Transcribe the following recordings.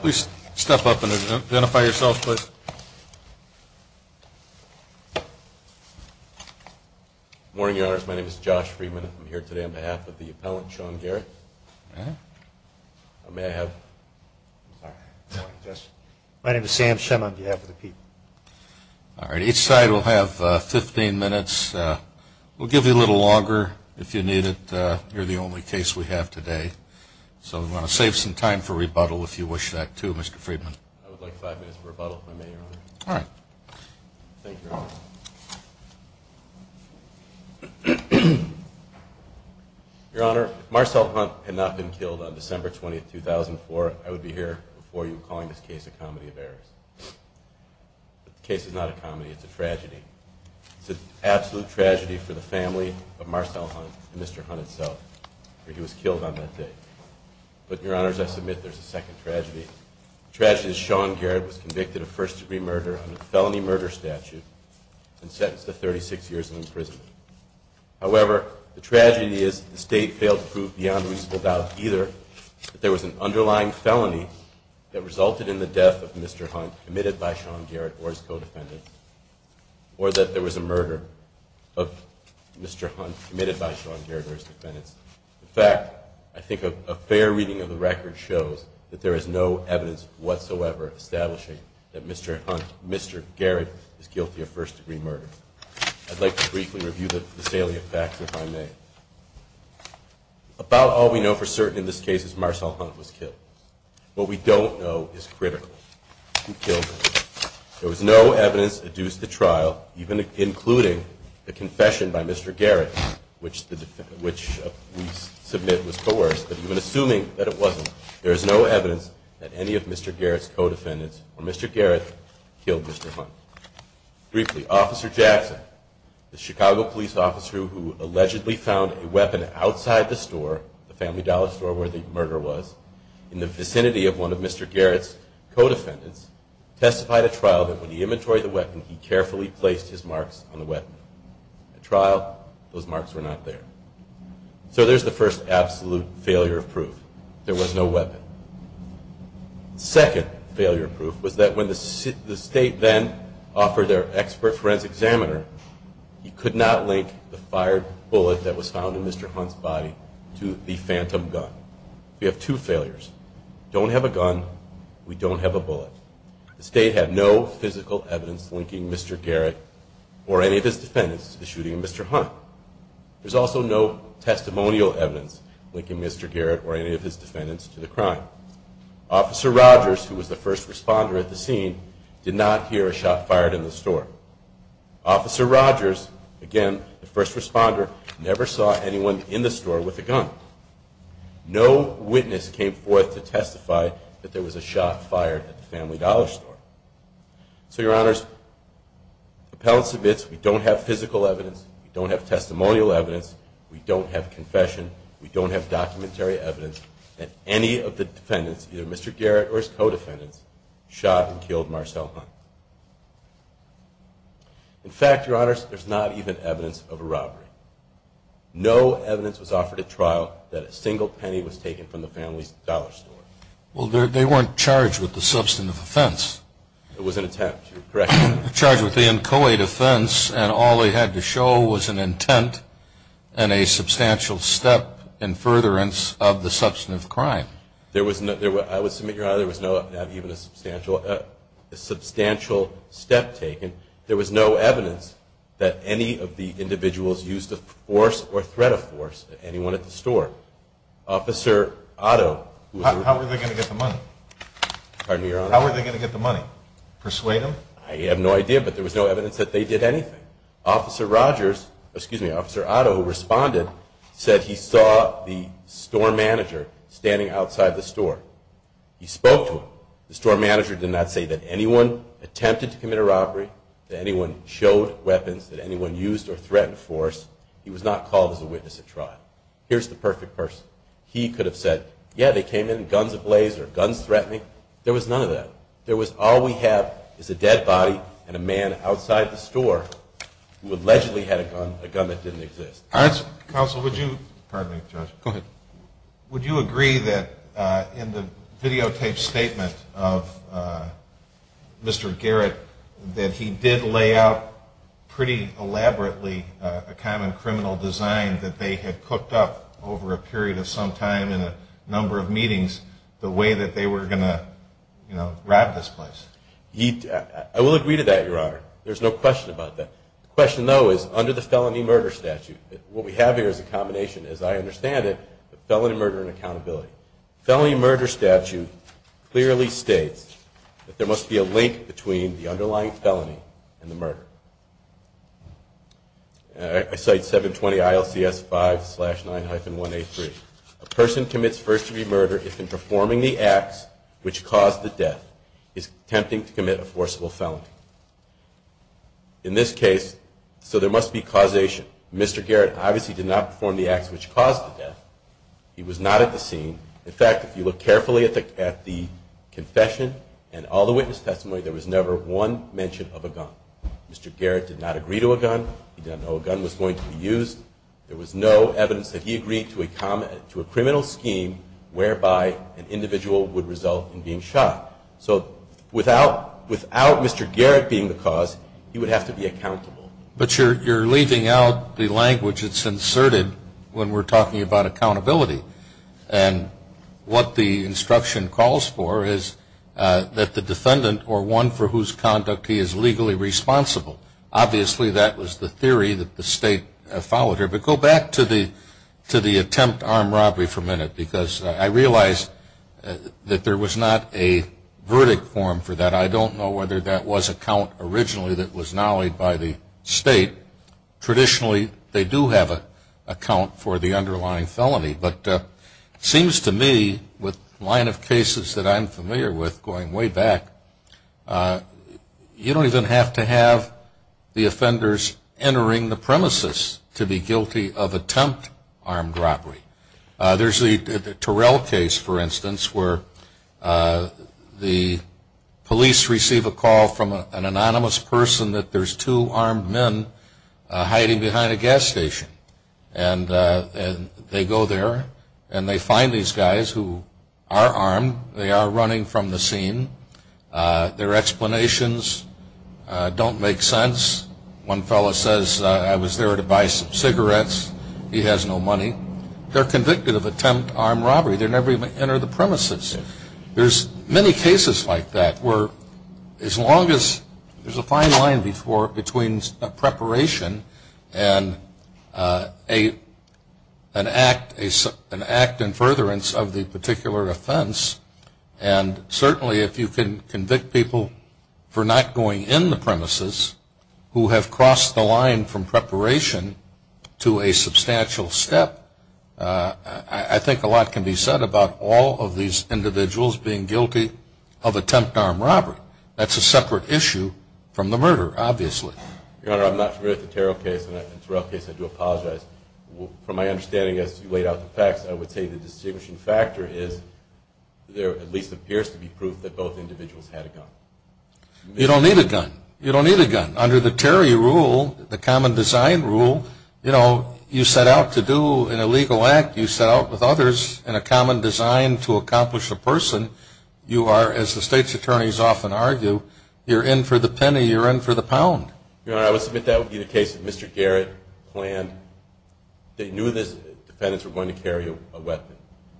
Please step up and identify yourself, please. Good morning, Your Honors. My name is Josh Friedman. I'm here today on behalf of the appellant, Sean Garrett. May I have? My name is Sam Shem on behalf of the people. All right. Each side will have 15 minutes. We'll give you a little longer if you need it. You're the only case we have today. So we want to save some time for rebuttal if you wish that too, Mr. Friedman. I would like five minutes for rebuttal if I may, Your Honor. Thank you, Your Honor. Your Honor, if Marcel Hunt had not been killed on December 20, 2004, I would be here before you calling this case a comedy of errors. The case is not a comedy. It's a tragedy. It's an absolute tragedy for the family of Marcel Hunt and Mr. Hunt himself. He was killed on that day. But, Your Honors, I submit there's a second tragedy. The tragedy is Sean Garrett was convicted of first-degree murder under the felony murder statute and sentenced to 36 years in prison. However, the tragedy is the State failed to prove beyond reasonable doubt either that there was an underlying felony that resulted in the death of Mr. Hunt committed by Sean Garrett or his co-defendants, or that there was a murder of Mr. Hunt committed by Sean Garrett or his defendants. In fact, I think a fair reading of the record shows that there is no evidence whatsoever establishing that Mr. Garrett is guilty of first-degree murder. I'd like to briefly review the salient facts if I may. About all we know for certain in this case is Marcel Hunt was killed. What we don't know is critically who killed him. There was no evidence adduced at trial, even including the confession by Mr. Garrett, which we submit was coerced. But even assuming that it wasn't, there is no evidence that any of Mr. Garrett's co-defendants or Mr. Garrett killed Mr. Hunt. Briefly, Officer Jackson, the Chicago police officer who allegedly found a weapon outside the store, the Family Dollar store where the murder was, in the vicinity of one of Mr. Garrett's co-defendants, testified at trial that when he inventoried the weapon, he carefully placed his marks on the weapon. At trial, those marks were not there. So there's the first absolute failure of proof. There was no weapon. Second failure of proof was that when the state then offered their expert forensic examiner, he could not link the fired bullet that was found in Mr. Hunt's body to the phantom gun. We have two failures. Don't have a gun. We don't have a bullet. The state had no physical evidence linking Mr. Garrett or any of his defendants to the shooting of Mr. Hunt. There's also no testimonial evidence linking Mr. Garrett or any of his defendants to the crime. Officer Rogers, who was the first responder at the scene, did not hear a shot fired in the store. Officer Rogers, again, the first responder, never saw anyone in the store with a gun. No witness came forth to testify that there was a shot fired at the Family Dollar Store. So, Your Honors, appellants admits we don't have physical evidence, we don't have testimonial evidence, we don't have confession, we don't have documentary evidence that any of the defendants, either Mr. Garrett or his co-defendants, shot and killed Marcel Hunt. In fact, Your Honors, there's not even evidence of a robbery. No evidence was offered at trial that a single penny was taken from the Family Dollar Store. Well, they weren't charged with the substantive offense. It was an attempt, correct? Charged with the inchoate offense, and all they had to show was an intent and a substantial step in furtherance of the substantive crime. I would submit, Your Honor, there was not even a substantial step taken. There was no evidence that any of the individuals used the force or threat of force at anyone at the store. Officer Otto... How were they going to get the money? Pardon me, Your Honor? How were they going to get the money? Persuade them? I have no idea, but there was no evidence that they did anything. Officer Rogers, excuse me, Officer Otto, who responded, said he saw the store manager standing outside the store. He spoke to him. The store manager did not say that anyone attempted to commit a robbery, that anyone showed weapons, that anyone used or threatened force. He was not called as a witness at trial. Here's the perfect person. He could have said, yeah, they came in guns ablaze or guns threatening. There was none of that. There was all we have is a dead body and a man outside the store who allegedly had a gun, a gun that didn't exist. Counsel, would you... Pardon me, Judge. Go ahead. Would you agree that in the videotaped statement of Mr. Garrett, that he did lay out pretty elaborately a kind of criminal design that they had cooked up over a period of some time in a number of meetings the way that they were going to, you know, rob this place? I will agree to that, Your Honor. There's no question about that. The question, though, is under the felony murder statute, what we have here is a combination. As I understand it, felony murder and accountability. Felony murder statute clearly states that there must be a link between the underlying felony and the murder. I cite 720 ILCS 5-9-1A3. A person commits first-degree murder if, in performing the acts which caused the death, is attempting to commit a forcible felony. In this case, so there must be causation. Mr. Garrett obviously did not perform the acts which caused the death. He was not at the scene. In fact, if you look carefully at the confession and all the witness testimony, there was never one mention of a gun. Mr. Garrett did not agree to a gun. He didn't know a gun was going to be used. There was no evidence that he agreed to a criminal scheme whereby an individual would result in being shot. So without Mr. Garrett being the cause, he would have to be accountable. But you're leaving out the language that's inserted when we're talking about accountability. And what the instruction calls for is that the defendant or one for whose conduct he is legally responsible. Obviously, that was the theory that the state followed here. But go back to the attempt armed robbery for a minute, because I realize that there was not a verdict form for that. And I don't know whether that was a count originally that was nollied by the state. Traditionally, they do have a count for the underlying felony. But it seems to me with the line of cases that I'm familiar with going way back, you don't even have to have the offenders entering the premises to be guilty of attempt armed robbery. There's the Terrell case, for instance, where the police receive a call from an anonymous person that there's two armed men hiding behind a gas station. And they go there and they find these guys who are armed. They are running from the scene. Their explanations don't make sense. One fellow says, I was there to buy some cigarettes. He has no money. They're convicted of attempt armed robbery. They never even enter the premises. There's many cases like that where as long as there's a fine line between preparation and an act in furtherance of the particular offense. And certainly if you can convict people for not going in the premises who have crossed the line from preparation to a substantial step, I think a lot can be said about all of these individuals being guilty of attempt armed robbery. That's a separate issue from the murder, obviously. Your Honor, I'm not familiar with the Terrell case. In the Terrell case, I do apologize. From my understanding as you laid out the facts, I would say the distinguishing factor is there at least appears to be proof that both individuals had a gun. You don't need a gun. You don't need a gun. Under the Terry rule, the common design rule, you set out to do an illegal act. You set out with others in a common design to accomplish a person. You are, as the state's attorneys often argue, you're in for the penny. You're in for the pound. Your Honor, I would submit that would be the case that Mr. Garrett planned. They knew the defendants were going to carry a weapon.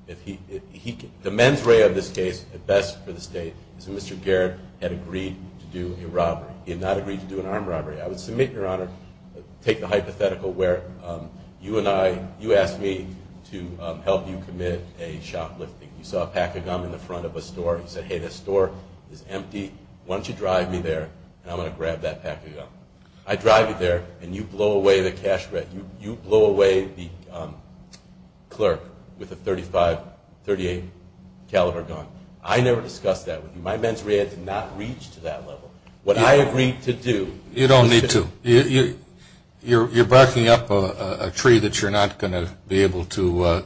The mens rea of this case, at best for the state, is that Mr. Garrett had agreed to do a robbery. He had not agreed to do an armed robbery. I would submit, Your Honor, take the hypothetical where you and I, you asked me to help you commit a shoplifting. You saw a pack of gum in the front of a store. You said, hey, this store is empty. Why don't you drive me there, and I'm going to grab that pack of gum. I drive you there, and you blow away the cash register. You blow away the clerk with a .35, .38 caliber gun. I never discussed that with you. My mens rea did not reach to that level. What I agreed to do. You don't need to. You're barking up a tree that you're not going to be able to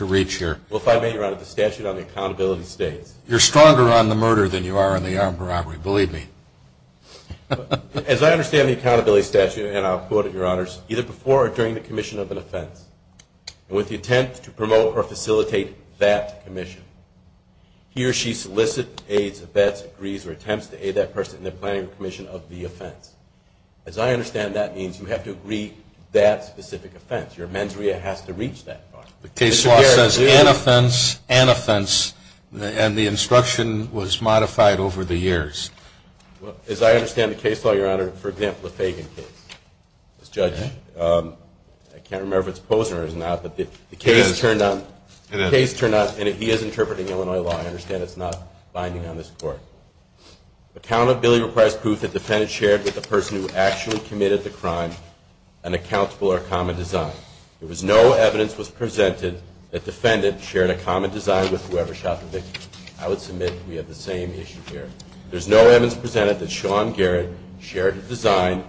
reach here. Well, if I may, Your Honor, the statute on accountability states. You're stronger on the murder than you are on the armed robbery. Believe me. As I understand the accountability statute, and I'll quote it, Your Honors, either before or during the commission of an offense, with the attempt to promote or facilitate that commission, he or she solicits, aids, vets, agrees, or attempts to aid that person in their planning or commission of the offense. As I understand that means you have to agree to that specific offense. Your mens rea has to reach that far. The case law says an offense, an offense, and the instruction was modified over the years. As I understand the case law, Your Honor, for example, the Fagan case. This judge, I can't remember if it's Posner or not, but the case turned out, and he is interpreting Illinois law. I understand it's not binding on this court. Accountability requires proof that the defendant shared with the person who actually committed the crime an accountable or common design. There was no evidence presented that the defendant shared a common design with whoever shot the victim. I would submit we have the same issue here. There's no evidence presented that Sean Garrett shared his design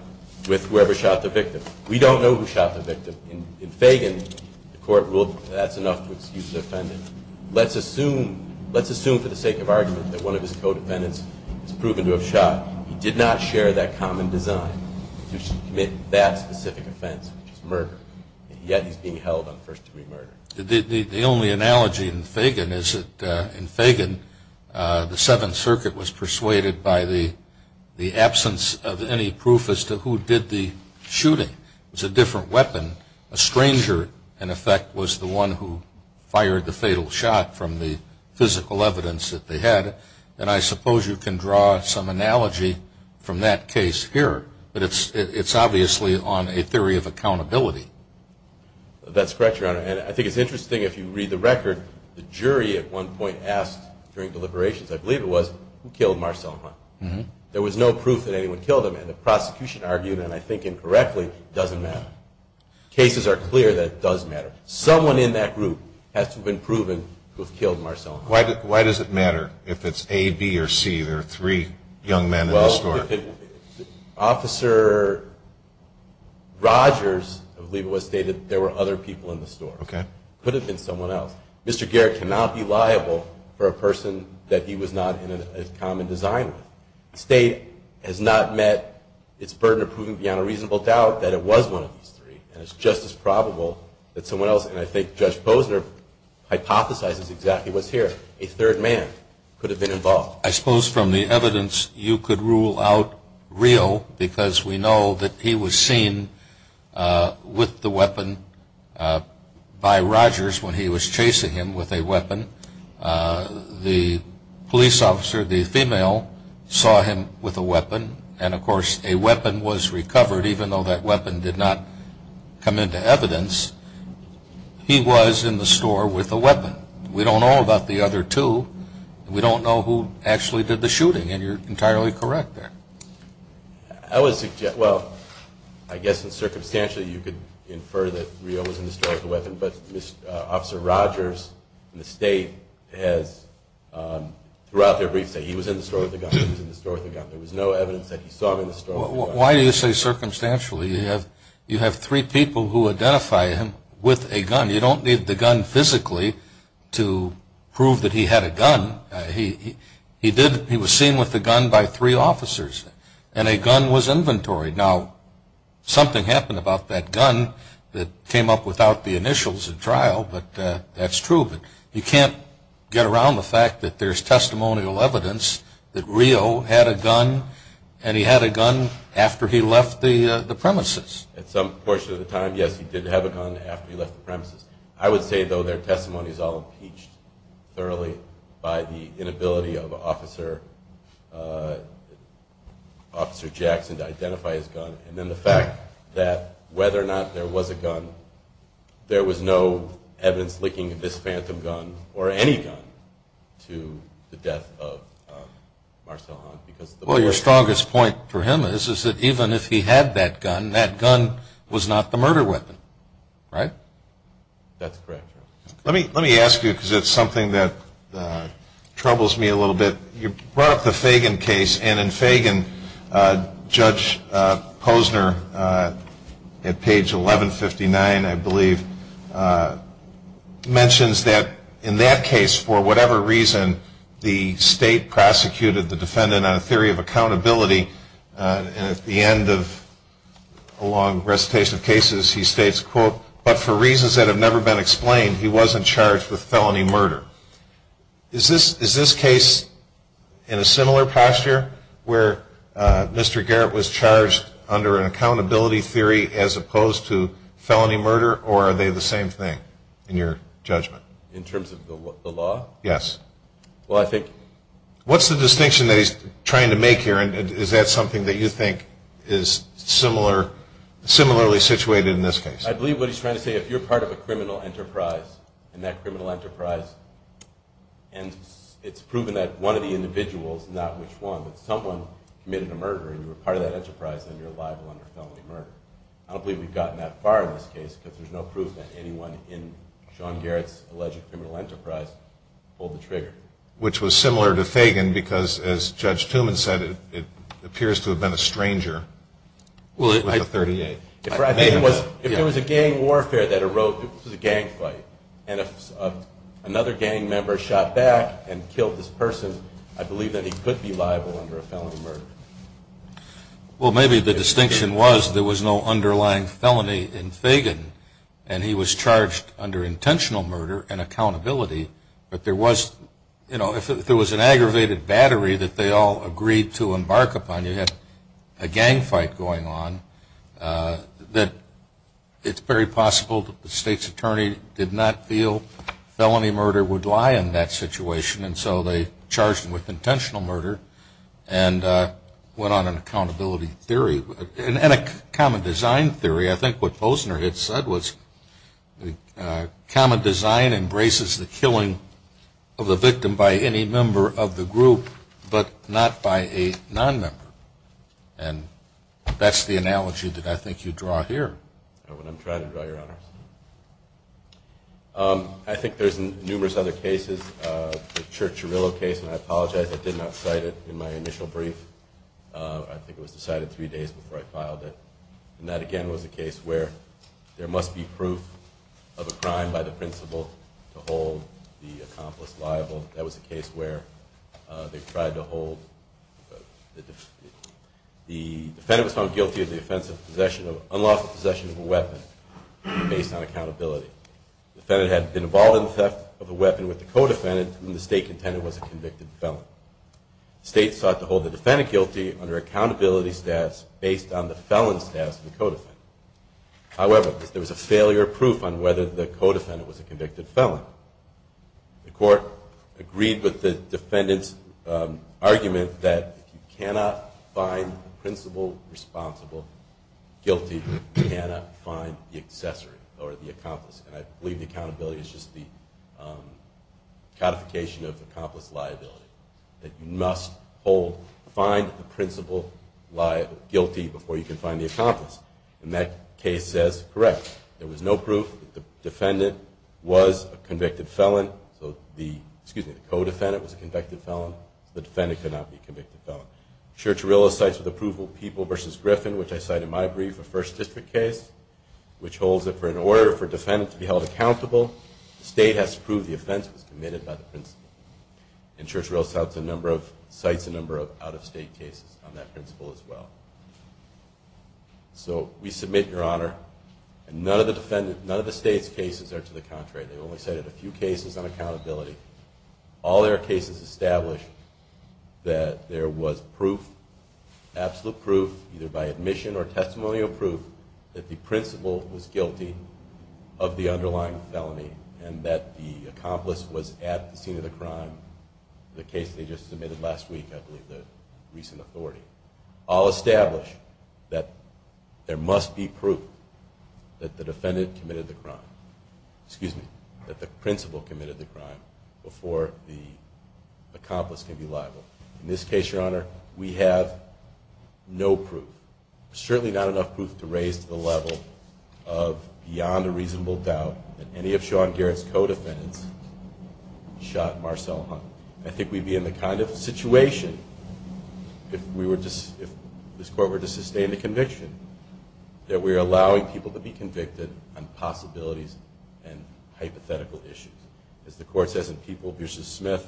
with whoever shot the victim. We don't know who shot the victim. In Fagan, the court ruled that that's enough to excuse the defendant. Let's assume for the sake of argument that one of his co-defendants has proven to have shot. He did not share that common design to commit that specific offense, which is murder, yet he's being held on first-degree murder. The only analogy in Fagan is that in Fagan, the Seventh Circuit was persuaded by the absence of any proof as to who did the shooting. It was a different weapon. A stranger, in effect, was the one who fired the fatal shot from the physical evidence that they had. And I suppose you can draw some analogy from that case here. But it's obviously on a theory of accountability. That's correct, Your Honor. And I think it's interesting, if you read the record, the jury at one point asked during deliberations, I believe it was, who killed Marcel Hunt. There was no proof that anyone killed him. And the prosecution argued, and I think incorrectly, it doesn't matter. Cases are clear that it does matter. Someone in that group has to have been proven to have killed Marcel Hunt. Why does it matter if it's A, B, or C? There are three young men in this court. Officer Rogers, I believe it was, stated there were other people in the store. It could have been someone else. Mr. Garrett cannot be liable for a person that he was not in a common design with. The State has not met its burden of proving beyond a reasonable doubt that it was one of these three. And it's just as probable that someone else, and I think Judge Posner hypothesizes exactly what's here, a third man could have been involved. Well, I suppose from the evidence you could rule out real because we know that he was seen with the weapon by Rogers when he was chasing him with a weapon. The police officer, the female, saw him with a weapon. And, of course, a weapon was recovered, even though that weapon did not come into evidence. He was in the store with a weapon. We don't know about the other two. We don't know who actually did the shooting, and you're entirely correct there. I would suggest, well, I guess in circumstantial, you could infer that Rio was in the store with a weapon, but Officer Rogers and the State has throughout their briefs said he was in the store with a gun, he was in the store with a gun. There was no evidence that he saw him in the store with a gun. Why do you say circumstantially? You have three people who identify him with a gun. You don't need the gun physically to prove that he had a gun. He was seen with a gun by three officers, and a gun was inventory. Now, something happened about that gun that came up without the initials in trial, but that's true. But you can't get around the fact that there's testimonial evidence that Rio had a gun, and he had a gun after he left the premises. At some portion of the time, yes, he did have a gun after he left the premises. I would say, though, their testimony is all impeached thoroughly by the inability of Officer Jackson to identify his gun, and then the fact that whether or not there was a gun, there was no evidence linking this phantom gun or any gun to the death of Marcel Hahn. Well, your strongest point for him is that even if he had that gun, that gun was not the murder weapon, right? That's correct. Let me ask you, because it's something that troubles me a little bit. You brought up the Fagan case, and in Fagan, Judge Posner, at page 1159, I believe, mentions that in that case, for whatever reason, the state prosecuted the defendant on a theory of accountability, and at the end of a long recitation of cases, he states, quote, but for reasons that have never been explained, he wasn't charged with felony murder. Is this case in a similar posture where Mr. Garrett was charged under an accountability theory as opposed to felony murder, or are they the same thing in your judgment? In terms of the law? Yes. Well, I think... What's the distinction that he's trying to make here, and is that something that you think is similarly situated in this case? I believe what he's trying to say, if you're part of a criminal enterprise, and that criminal enterprise, and it's proven that one of the individuals, not which one, but someone committed a murder, and you were part of that enterprise, then you're liable under felony murder. I don't believe we've gotten that far in this case, because there's no proof that anyone in Sean Garrett's alleged criminal enterprise pulled the trigger. Which was similar to Fagan, because, as Judge Tooman said, it appears to have been a stranger. Well, I... With the .38. I think it was, if it was a gang warfare that arose, it was a gang fight, and if another gang member shot back and killed this person, I believe that he could be liable under a felony murder. Well, maybe the distinction was there was no underlying felony in Fagan, and he was charged under intentional murder and accountability, but there was, you know, if there was an aggravated battery that they all agreed to embark upon, you had a gang fight going on, that it's very possible that the state's attorney did not feel felony murder would lie in that situation, and so they charged him with intentional murder and went on an accountability theory. And a common design theory. I think what Posner had said was common design embraces the killing of a victim by any member of the group, but not by a non-member. And that's the analogy that I think you draw here. That's what I'm trying to draw, Your Honors. I think there's numerous other cases. The Church-Chirillo case, and I apologize, I did not cite it in my initial brief. I think it was decided three days before I filed it. And that, again, was a case where there must be proof of a crime by the principal to hold the accomplice liable. That was a case where they tried to hold the defendant was found guilty of the offense of possession, possession of a weapon based on accountability. The defendant had been involved in the theft of a weapon with the co-defendant, and the state contender was a convicted felon. The state sought to hold the defendant guilty under accountability status based on the felon status of the co-defendant. However, there was a failure of proof on whether the co-defendant was a convicted felon. The court agreed with the defendant's argument that if you cannot find the principal responsible guilty, you cannot find the accessory or the accomplice. And I believe the accountability is just the codification of accomplice liability. That you must find the principal guilty before you can find the accomplice. And that case says, correct. There was no proof that the defendant was a convicted felon. So the, excuse me, the co-defendant was a convicted felon. The defendant could not be a convicted felon. Church-Arillo cites with approval People v. Griffin, which I cite in my brief, a First District case, which holds that for an order for a defendant to be held accountable, the state has to prove the offense was committed by the principal. And Church-Arillo cites a number of out-of-state cases on that principal as well. So we submit, Your Honor, and none of the defendant, none of the state's cases are to the contrary. They've only cited a few cases on accountability. All their cases establish that there was proof, absolute proof, either by admission or testimonial proof, that the principal was guilty of the underlying felony and that the accomplice was at the scene of the crime. The case they just submitted last week, I believe, the recent authority. All establish that there must be proof that the defendant committed the crime. Excuse me, that the principal committed the crime before the accomplice can be liable. In this case, Your Honor, we have no proof, certainly not enough proof to raise the level of beyond a reasonable doubt that any of Sean Garrett's co-defendants shot Marcel Hunt. I think we'd be in the kind of situation, if this court were to sustain the conviction, that we're allowing people to be convicted on possibilities and hypothetical issues. As the court says in People v. Smith,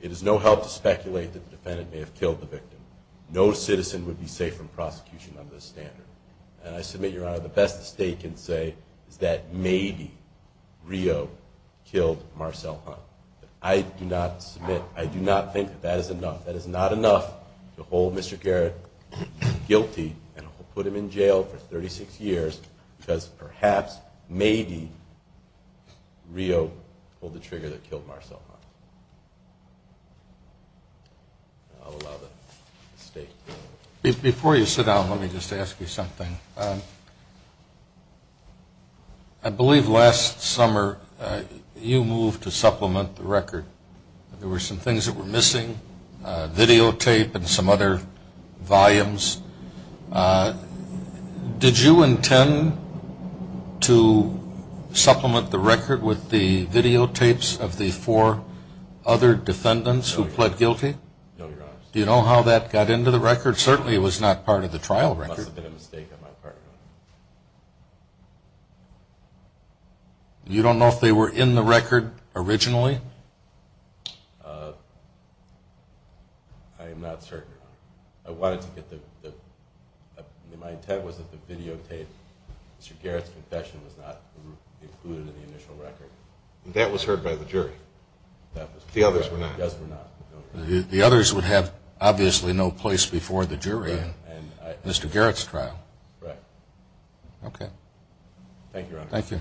it is no help to speculate that the defendant may have killed the victim. No citizen would be safe from prosecution under this standard. And I submit, Your Honor, the best the state can say is that maybe Rio killed Marcel Hunt. I do not submit, I do not think that that is enough. That is not enough to hold Mr. Garrett guilty and put him in jail for 36 years because perhaps, maybe, Rio pulled the trigger that killed Marcel Hunt. I'll allow the state to do that. Before you sit down, let me just ask you something. I believe last summer you moved to supplement the record. There were some things that were missing, videotape and some other volumes. Did you intend to supplement the record with the videotapes of the four other defendants who pled guilty? No, Your Honor. Do you know how that got into the record? Certainly it was not part of the trial record. It must have been a mistake on my part. You don't know if they were in the record originally? I am not certain. My intent was that the videotape, Mr. Garrett's confession, was not included in the initial record. That was heard by the jury. The others were not. The others would have obviously no place before the jury in Mr. Garrett's trial. Right. Thank you, Your Honor. Thank you.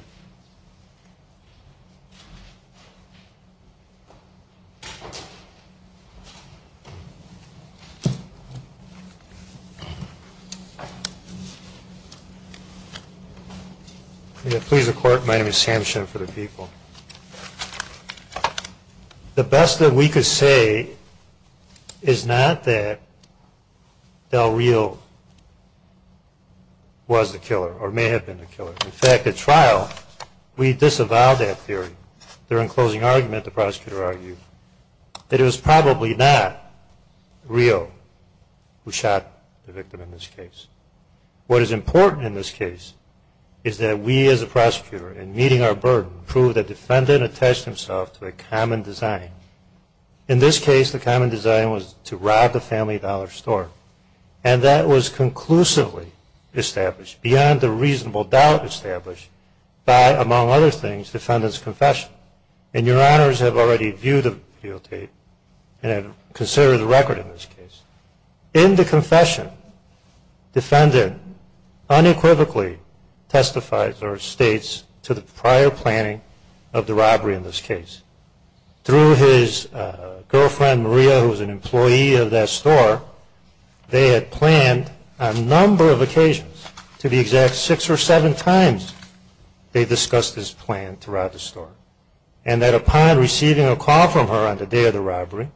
May it please the Court, my name is Sam Shem for the People. The best that we could say is not that Del Rio was the killer or may have been the killer. In fact, at trial, we disavowed that theory. During closing argument, the prosecutor argued that it was probably not Rio who shot the victim in this case. What is important in this case is that we as a prosecutor, in meeting our burden, proved that the defendant attached himself to a common design. In this case, the common design was to rob the family dollar store. And that was conclusively established, beyond the reasonable doubt established, by, among other things, the defendant's confession. And Your Honors have already viewed the videotape and considered the record in this case. In the confession, defendant unequivocally testifies or states to the prior planning of the robbery in this case. Through his girlfriend, Maria, who was an employee of that store, they had planned on a number of occasions, to be exact, six or seven times, they discussed this plan throughout the store. And that upon receiving a call from her on the day of the robbery,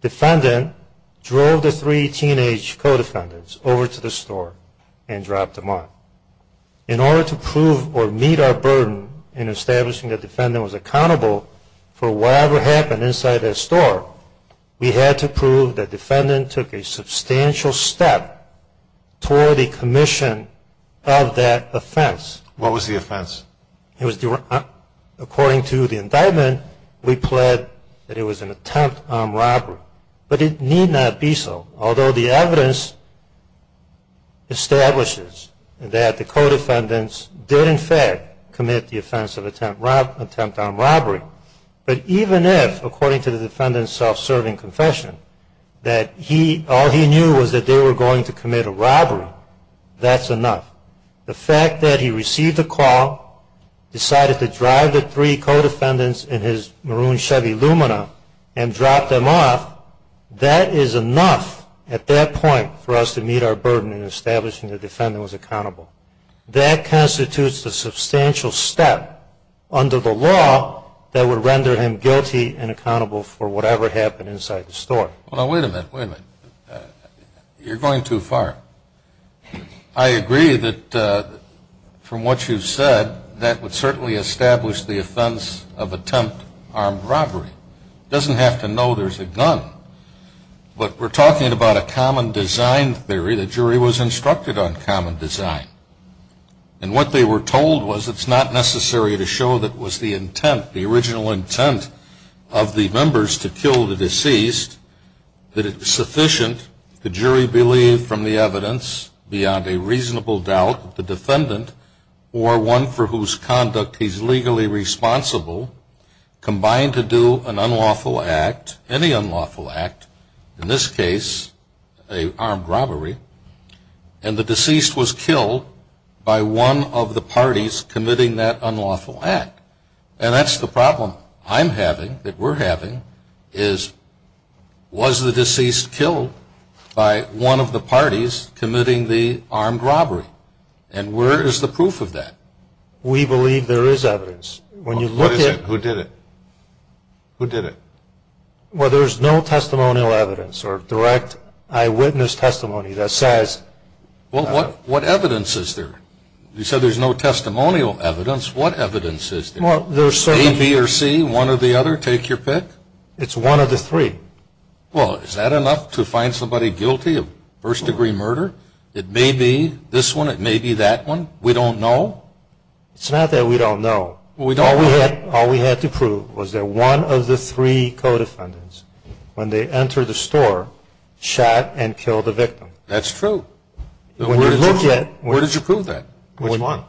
defendant drove the three teenage co-defendants over to the store and dropped them off. In order to prove or meet our burden in establishing the defendant was accountable for whatever happened inside that store, we had to prove that defendant took a substantial step toward the commission of that offense. What was the offense? According to the indictment, we pled that it was an attempt on robbery. But it need not be so, although the evidence establishes that the co-defendants did, in fact, commit the offense of attempt on robbery. But even if, according to the defendant's self-serving confession, that all he knew was that they were going to commit a robbery, that's enough. The fact that he received the call, decided to drive the three co-defendants in his maroon Chevy Lumina and drop them off, that is enough at that point for us to meet our burden in establishing the defendant was accountable. That constitutes a substantial step under the law that would render him guilty and accountable for whatever happened inside the store. Now, wait a minute. Wait a minute. You're going too far. I agree that from what you've said, that would certainly establish the offense of attempt on robbery. It doesn't have to know there's a gun. But we're talking about a common design theory. The jury was instructed on common design. And what they were told was it's not necessary to show that it was the intent, the original intent of the members to kill the deceased, that it's sufficient, the jury believed from the evidence, beyond a reasonable doubt, that the defendant or one for whose conduct he's legally responsible combined to do an unlawful act, any unlawful act, in this case, an armed robbery, and the deceased was killed by one of the parties committing that unlawful act. And that's the problem I'm having, that we're having, is was the deceased killed by one of the parties committing the armed robbery? And where is the proof of that? We believe there is evidence. What is it? Who did it? Who did it? Well, there's no testimonial evidence or direct eyewitness testimony that says. Well, what evidence is there? You said there's no testimonial evidence. What evidence is there? A, B, or C, one or the other, take your pick. It's one of the three. Well, is that enough to find somebody guilty of first-degree murder? It may be this one. It may be that one. We don't know. It's not that we don't know. All we had to prove was that one of the three co-defendants, when they entered the store, shot and killed the victim. That's true. Where did you prove that? Which one?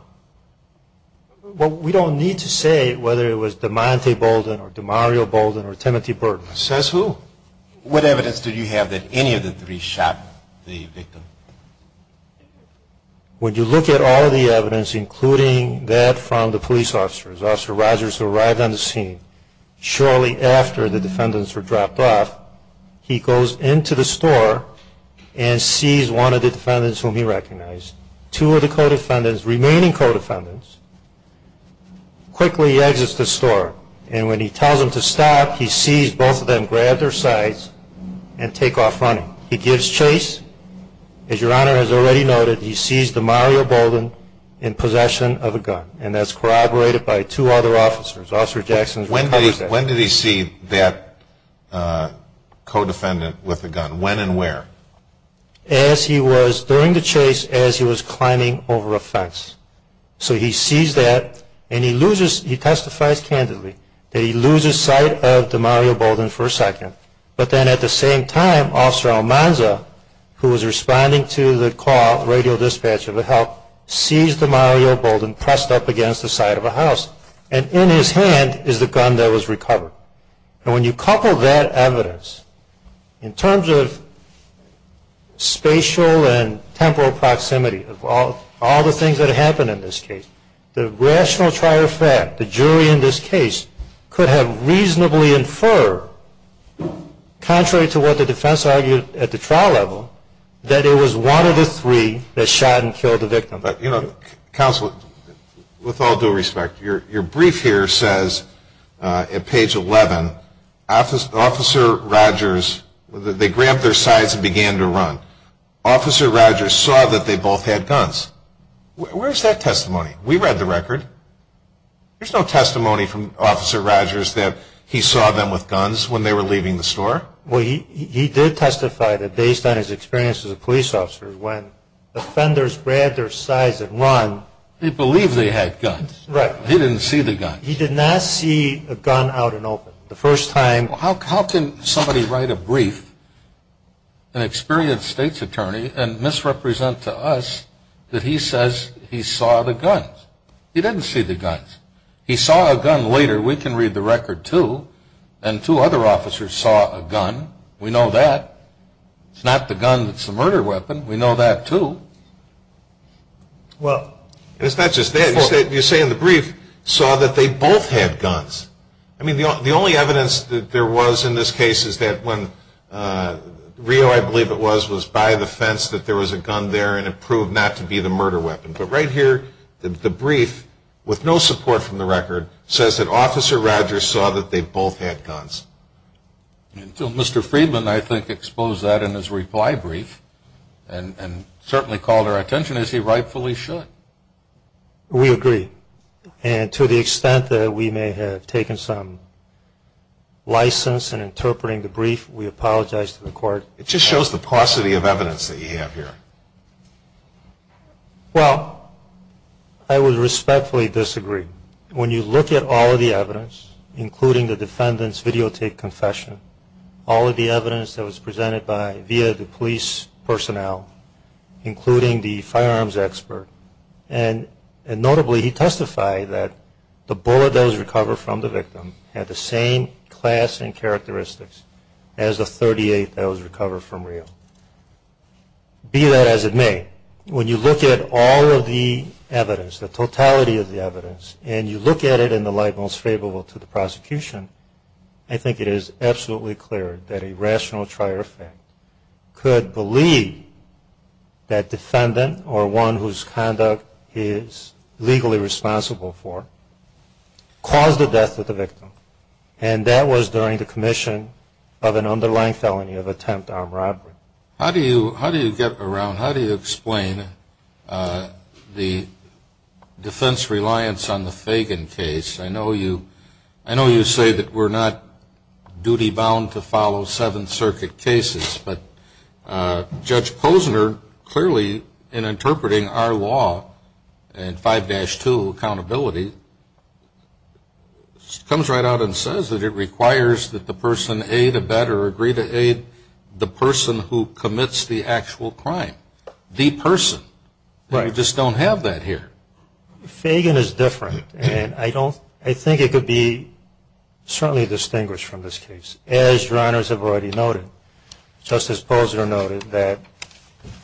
Well, we don't need to say whether it was DeMonte Bolden or DeMario Bolden or Timothy Burton. Says who? What evidence do you have that any of the three shot the victim? When you look at all the evidence, including that from the police officers, Officer Rogers arrived on the scene shortly after the defendants were dropped off, he goes into the store and sees one of the defendants whom he recognized. Two of the co-defendants, remaining co-defendants, quickly exits the store, and when he tells them to stop, he sees both of them grab their sides and take off running. He gives chase. As Your Honor has already noted, he sees DeMario Bolden in possession of a gun, and that's corroborated by two other officers. Officer Jackson's recovered that. When did he see that co-defendant with the gun? When and where? As he was during the chase, as he was climbing over a fence. So he sees that, and he testifies candidly that he loses sight of DeMario Bolden for a second, but then at the same time, Officer Almanza, who was responding to the call, radio dispatch of help, sees DeMario Bolden pressed up against the side of a house, And when you couple that evidence, in terms of spatial and temporal proximity, of all the things that happened in this case, the rational trier fact, the jury in this case, could have reasonably inferred, contrary to what the defense argued at the trial level, that it was one of the three that shot and killed the victim. Counsel, with all due respect, your brief here says, at page 11, Officer Rodgers, they grabbed their sides and began to run. Officer Rodgers saw that they both had guns. Where's that testimony? We read the record. There's no testimony from Officer Rodgers that he saw them with guns when they were leaving the store. Well, he did testify that, based on his experience as a police officer, when offenders grabbed their sides and ran. He believed they had guns. Right. He didn't see the guns. He did not see a gun out in open. The first time. How can somebody write a brief, an experienced state's attorney, and misrepresent to us that he says he saw the guns? He didn't see the guns. He saw a gun later. We can read the record, too. And two other officers saw a gun. We know that. It's not the gun that's the murder weapon. We know that, too. Well, it's not just that. You say in the brief, saw that they both had guns. I mean, the only evidence that there was in this case is that when Rio, I believe it was, was by the fence that there was a gun there, and it proved not to be the murder weapon. But right here, the brief, with no support from the record, says that Officer Rogers saw that they both had guns. Until Mr. Friedman, I think, exposed that in his reply brief and certainly called our attention, as he rightfully should. We agree. And to the extent that we may have taken some license in interpreting the brief, we apologize to the court. It just shows the paucity of evidence that you have here. Well, I would respectfully disagree. When you look at all of the evidence, including the defendant's videotape confession, all of the evidence that was presented via the police personnel, including the firearms expert, and notably he testified that the bullet that was recovered from the victim had the same class and characteristics as the .38 that was recovered from Rio. Be that as it may, when you look at all of the evidence, the totality of the evidence, and you look at it in the light most favorable to the prosecution, I think it is absolutely clear that a rational trier of fact could believe that defendant or one whose conduct he is legally responsible for caused the death of the victim. And that was during the commission of an underlying felony of attempt armed robbery. How do you get around, how do you explain the defense reliance on the Fagan case? I know you say that we're not duty-bound to follow Seventh Circuit cases, but Judge Posner clearly, in interpreting our law and 5-2 accountability, comes right out and says that it requires that the person aid, abet, or agree to aid the person who commits the actual crime. The person. We just don't have that here. Fagan is different, and I think it could be certainly distinguished from this case, as your honors have already noted. Justice Posner noted that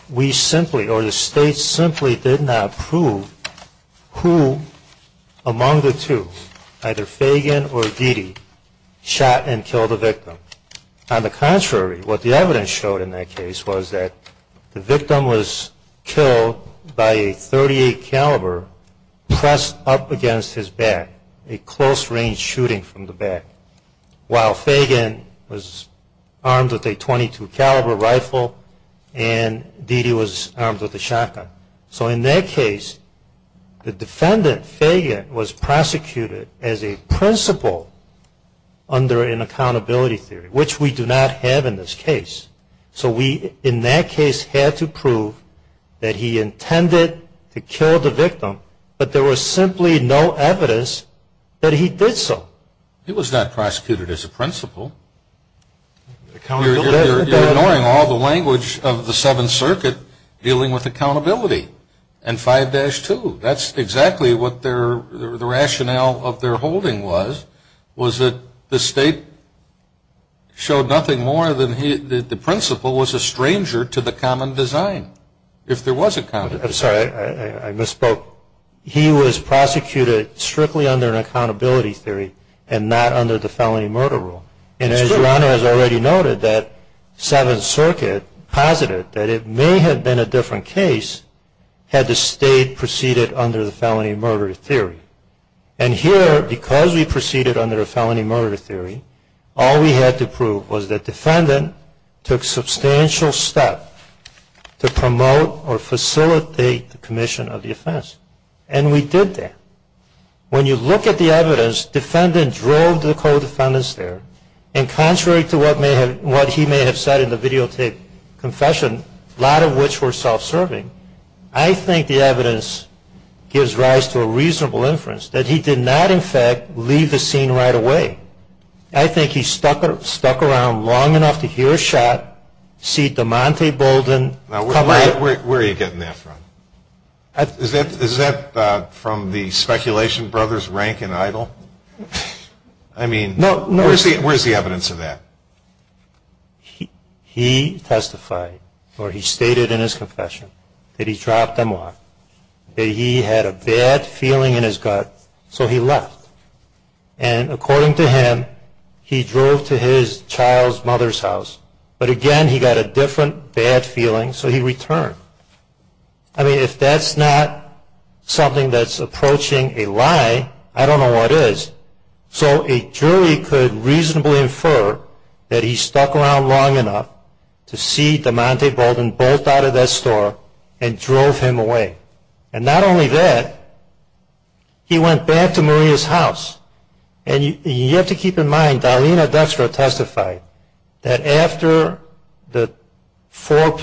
we simply, or the state simply, did not prove who among the two, either Fagan or Dede, shot and killed the victim. On the contrary, what the evidence showed in that case was that the victim was killed by a .38 caliber pressed up against his back, a close-range shooting from the back, while Fagan was armed with a .22 caliber rifle and Dede was armed with a shotgun. So in that case, the defendant, Fagan, was prosecuted as a principal under an accountability theory, which we do not have in this case. So we, in that case, had to prove that he intended to kill the victim, but there was simply no evidence that he did so. He was not prosecuted as a principal. You're ignoring all the language of the Seventh Circuit dealing with accountability and 5-2. That's exactly what the rationale of their holding was, was that the state showed nothing more than the principal was a stranger to the common design, if there was a common design. I'm sorry, I misspoke. He was prosecuted strictly under an accountability theory and not under the felony murder rule. And as your Honor has already noted, that Seventh Circuit posited that it may have been a different case had the state proceeded under the felony murder theory. And here, because we proceeded under the felony murder theory, all we had to prove was that the defendant took substantial steps to promote or facilitate the commission of the offense. And we did that. When you look at the evidence, the defendant drove the co-defendants there, and contrary to what he may have said in the videotape confession, a lot of which were self-serving, I think the evidence gives rise to a reasonable inference that he did not, in fact, leave the scene right away. I think he stuck around long enough to hear a shot, see DeMonte Bolden. Now, where are you getting that from? Is that from the speculation brothers Rank and Idol? I mean, where's the evidence of that? He testified, or he stated in his confession, that he dropped them off, that he had a bad feeling in his gut, so he left. And according to him, he drove to his child's mother's house. But again, he got a different bad feeling, so he returned. I mean, if that's not something that's approaching a lie, I don't know what is. So a jury could reasonably infer that he stuck around long enough to see DeMonte Bolden bolt out of that store and drove him away. And not only that, he went back to Maria's house. And you have to keep in mind, Darlena Dextra testified that after the four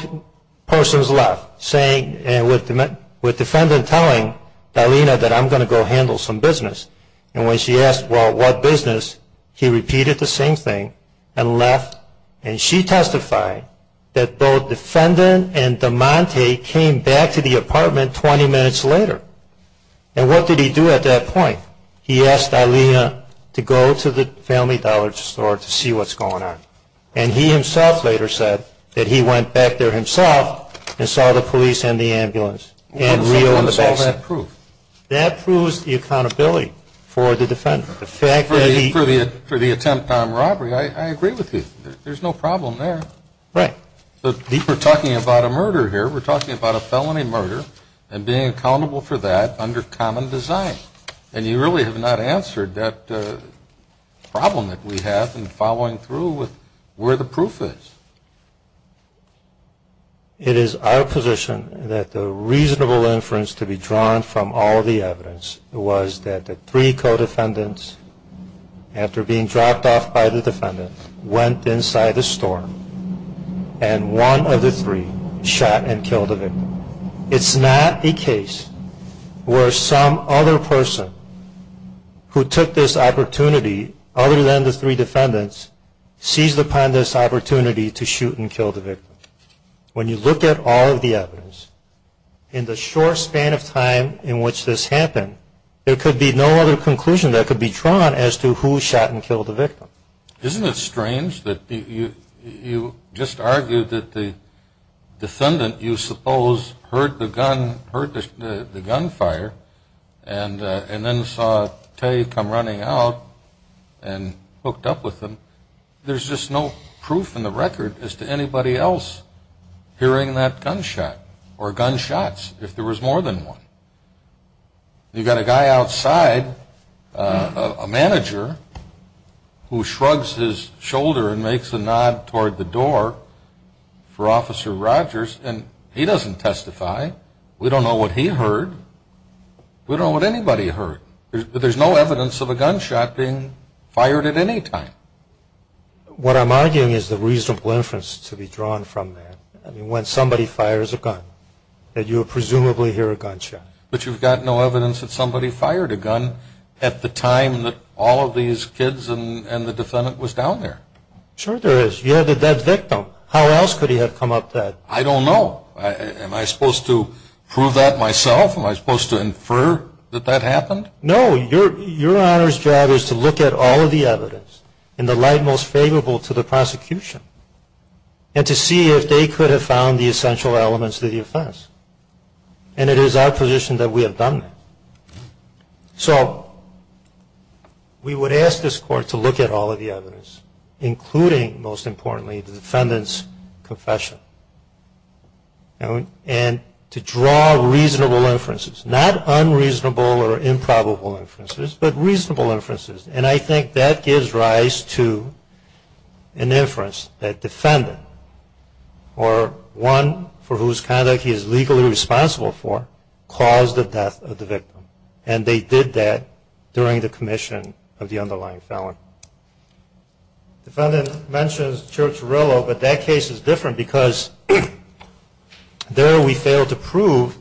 persons left, with the defendant telling Darlena that I'm going to go handle some business, and when she asked, well, what business, he repeated the same thing and left. And she testified that both the defendant and DeMonte came back to the apartment 20 minutes later. And what did he do at that point? He asked Darlena to go to the Family Dollar store to see what's going on. And he himself later said that he went back there himself and saw the police and the ambulance. What does all that prove? That proves the accountability for the defendant. For the attempt on robbery, I agree with you. There's no problem there. Right. But we're talking about a murder here. We're talking about a felony murder and being accountable for that under common design. And you really have not answered that problem that we have in following through with where the proof is. It is our position that the reasonable inference to be drawn from all the evidence was that the three co-defendants, after being dropped off by the defendant, went inside the store, and one of the three shot and killed the victim. It's not a case where some other person who took this opportunity other than the three defendants seized upon this opportunity to shoot and kill the victim. When you look at all of the evidence, in the short span of time in which this happened, there could be no other conclusion that could be drawn as to who shot and killed the victim. Isn't it strange that you just argued that the defendant, you suppose, heard the gunfire and then saw Tay come running out and hooked up with him? There's just no proof in the record as to anybody else hearing that gunshot or gunshots if there was more than one. You've got a guy outside, a manager, who shrugs his shoulder and makes a nod toward the door for Officer Rogers, and he doesn't testify. We don't know what he heard. We don't know what anybody heard. But there's no evidence of a gunshot being fired at any time. What I'm arguing is the reasonable inference to be drawn from that. When somebody fires a gun, you presumably hear a gunshot. But you've got no evidence that somebody fired a gun at the time that all of these kids and the defendant was down there. Sure there is. You had the dead victim. How else could he have come up dead? I don't know. Am I supposed to prove that myself? Am I supposed to infer that that happened? No. Your Honor's job is to look at all of the evidence in the light most favorable to the prosecution and to see if they could have found the essential elements of the offense. And it is our position that we have done that. So we would ask this Court to look at all of the evidence, including, most importantly, the defendant's confession, and to draw reasonable inferences. Not unreasonable or improbable inferences, but reasonable inferences. And I think that gives rise to an inference that the defendant, or one for whose conduct he is legally responsible for, caused the death of the victim. And they did that during the commission of the underlying felon. The defendant mentions Church-Rillo, but that case is different because there we failed to prove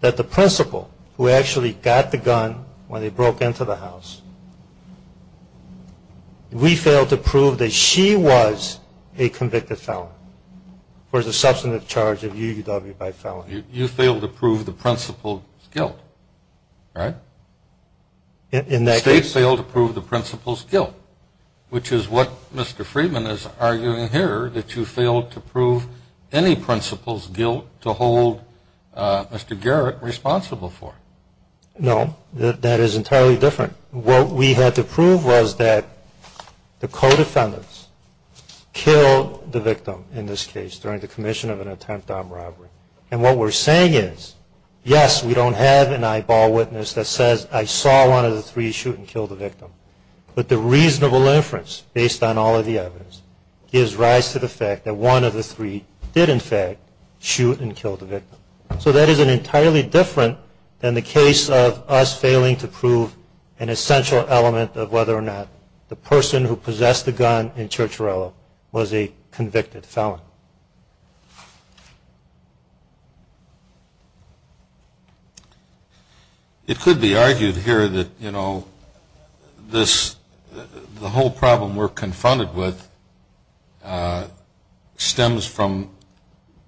that the principal, who actually got the gun when they broke into the house, we failed to prove that she was a convicted felon for the substantive charge of UUW by felony. You failed to prove the principal's guilt, right? In that case. We failed to prove the principal's guilt, which is what Mr. Friedman is arguing here, that you failed to prove any principal's guilt to hold Mr. Garrett responsible for. No. That is entirely different. What we had to prove was that the co-defendants killed the victim in this case during the commission of an attempt on robbery. And what we're saying is, yes, we don't have an eyeball witness that says, I saw one of the three shoot and kill the victim. But the reasonable inference, based on all of the evidence, gives rise to the fact that one of the three did, in fact, shoot and kill the victim. So that is entirely different than the case of us failing to prove an essential element of whether or not the person who possessed the gun in Church-Rillo was a convicted felon. It could be argued here that, you know, the whole problem we're confronted with stems from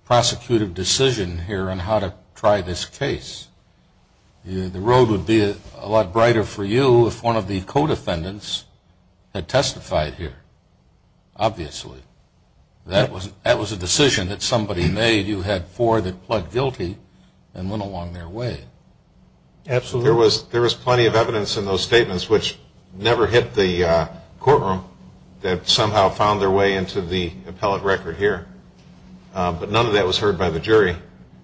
prosecutive decision here on how to try this case. The road would be a lot brighter for you if one of the co-defendants had testified here, obviously. That was a decision that somebody made. You had four that pled guilty and went along their way. Absolutely. There was plenty of evidence in those statements which never hit the courtroom that somehow found their way into the appellate record here. But none of that was heard by the jury.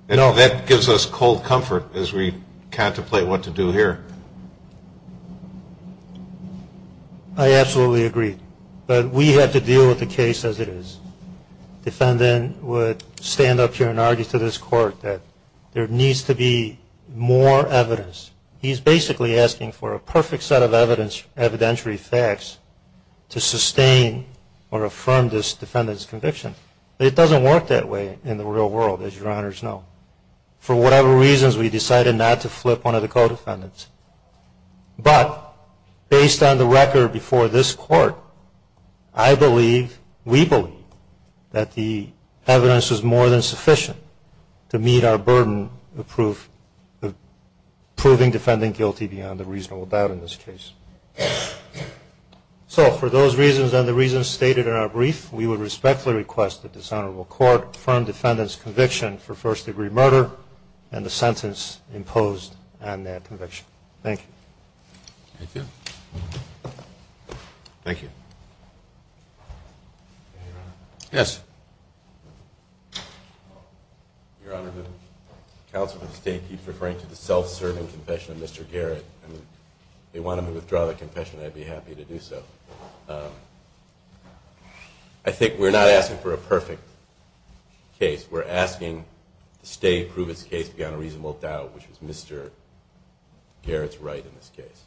No. That gives us cold comfort as we contemplate what to do here. I absolutely agree. But we have to deal with the case as it is. The defendant would stand up here and argue to this court that there needs to be more evidence. He's basically asking for a perfect set of evidence, evidentiary facts, to sustain or affirm this defendant's conviction. It doesn't work that way in the real world, as your Honors know. For whatever reasons, we decided not to flip one of the co-defendants. But based on the record before this court, I believe, we believe, that the evidence is more than sufficient to meet our burden of proving defendant guilty beyond a reasonable doubt in this case. So for those reasons and the reasons stated in our brief, we would respectfully request that this honorable court affirm defendant's conviction for first-degree murder and the sentence imposed on that conviction. Thank you. Thank you. Thank you. Yes. Your Honor, the counsel of the state keeps referring to the self-serving confession of Mr. Garrett. They want him to withdraw the confession. I'd be happy to do so. I think we're not asking for a perfect case. We're asking the state prove its case beyond a reasonable doubt, which is Mr. Garrett's right in this case.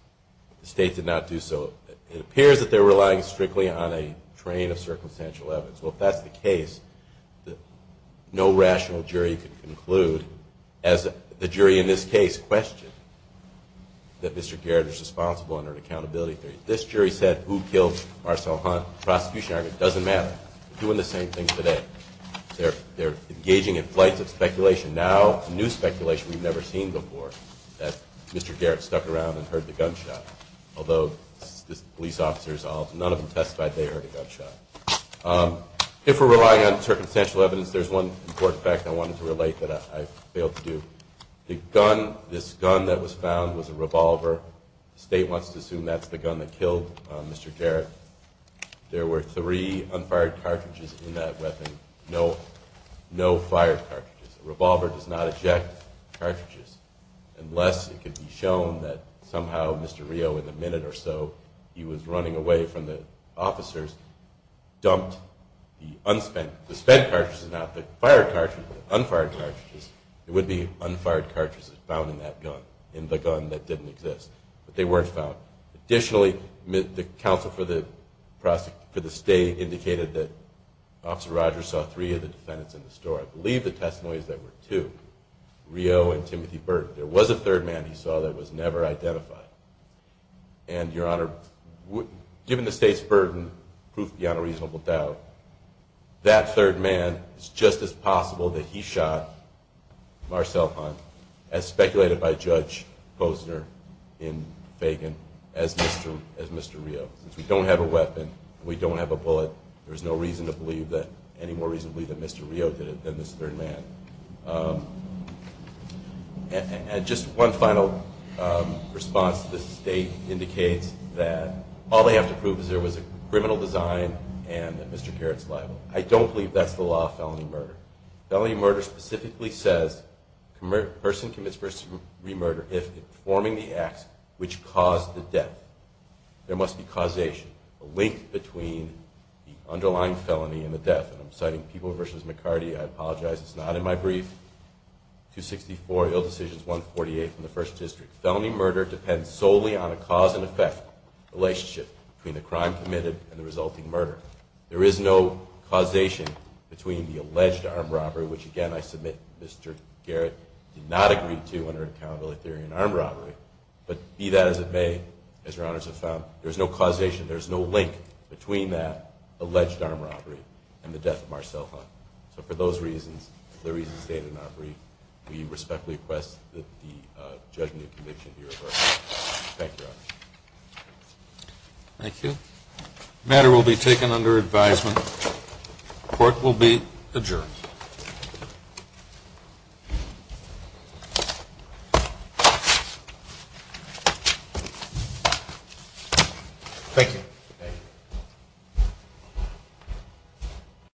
The state did not do so. It appears that they're relying strictly on a train of circumstantial evidence. Well, if that's the case, no rational jury can conclude, as the jury in this case questioned, that Mr. Garrett is responsible under an accountability theory. This jury said who killed Marcel Hunt. The prosecution argument doesn't matter. They're doing the same thing today. They're engaging in flights of speculation, now new speculation we've never seen before, that Mr. Garrett stuck around and heard the gunshot, although police officers, none of them testified they heard a gunshot. If we're relying on circumstantial evidence, there's one important fact I wanted to relate that I failed to do. The gun, this gun that was found, was a revolver. The state wants to assume that's the gun that killed Mr. Garrett. There were three unfired cartridges in that weapon, no fired cartridges. A revolver does not eject cartridges, unless it could be shown that somehow Mr. Rio, in a minute or so, he was running away from the officers, dumped the unspent, the spent cartridges, not the fired cartridges, but the unfired cartridges. It would be unfired cartridges found in that gun, in the gun that didn't exist. But they weren't found. Additionally, the counsel for the state indicated that Officer Rogers saw three of the defendants in the store. I believe the testimonies that were two, Rio and Timothy Burton. There was a third man he saw that was never identified. And, Your Honor, given the state's burden, proof beyond a reasonable doubt, that third man, it's just as possible that he shot Marcel Hunt, as speculated by Judge Posner in Fagan, as Mr. Rio. Since we don't have a weapon, we don't have a bullet, there's no reason to believe that, any more reason to believe that Mr. Rio did it than this third man. And just one final response. The state indicates that all they have to prove is there was a criminal design and that Mr. Garrett's liable. I don't believe that's the law of felony murder. Felony murder specifically says a person commits first degree murder if informing the acts which caused the death. There must be causation, a link between the underlying felony and the death. And I'm citing People v. McCarty. I apologize, it's not in my brief. 264, Ill Decisions 148 from the First District. Felony murder depends solely on a cause and effect relationship between the crime committed and the resulting murder. There is no causation between the alleged armed robbery, which again I submit Mr. Garrett did not agree to under Accountability Theory and Armed Robbery, but be that as it may, as Your Honors have found, there's no causation, there's no link between that alleged armed robbery and the death of Marcel Hunt. So for those reasons, the reasons stated in our brief, we respectfully request that the judgment of conviction be reversed. Thank you, Your Honors. Thank you. The matter will be taken under advisement. Court will be adjourned. Thank you.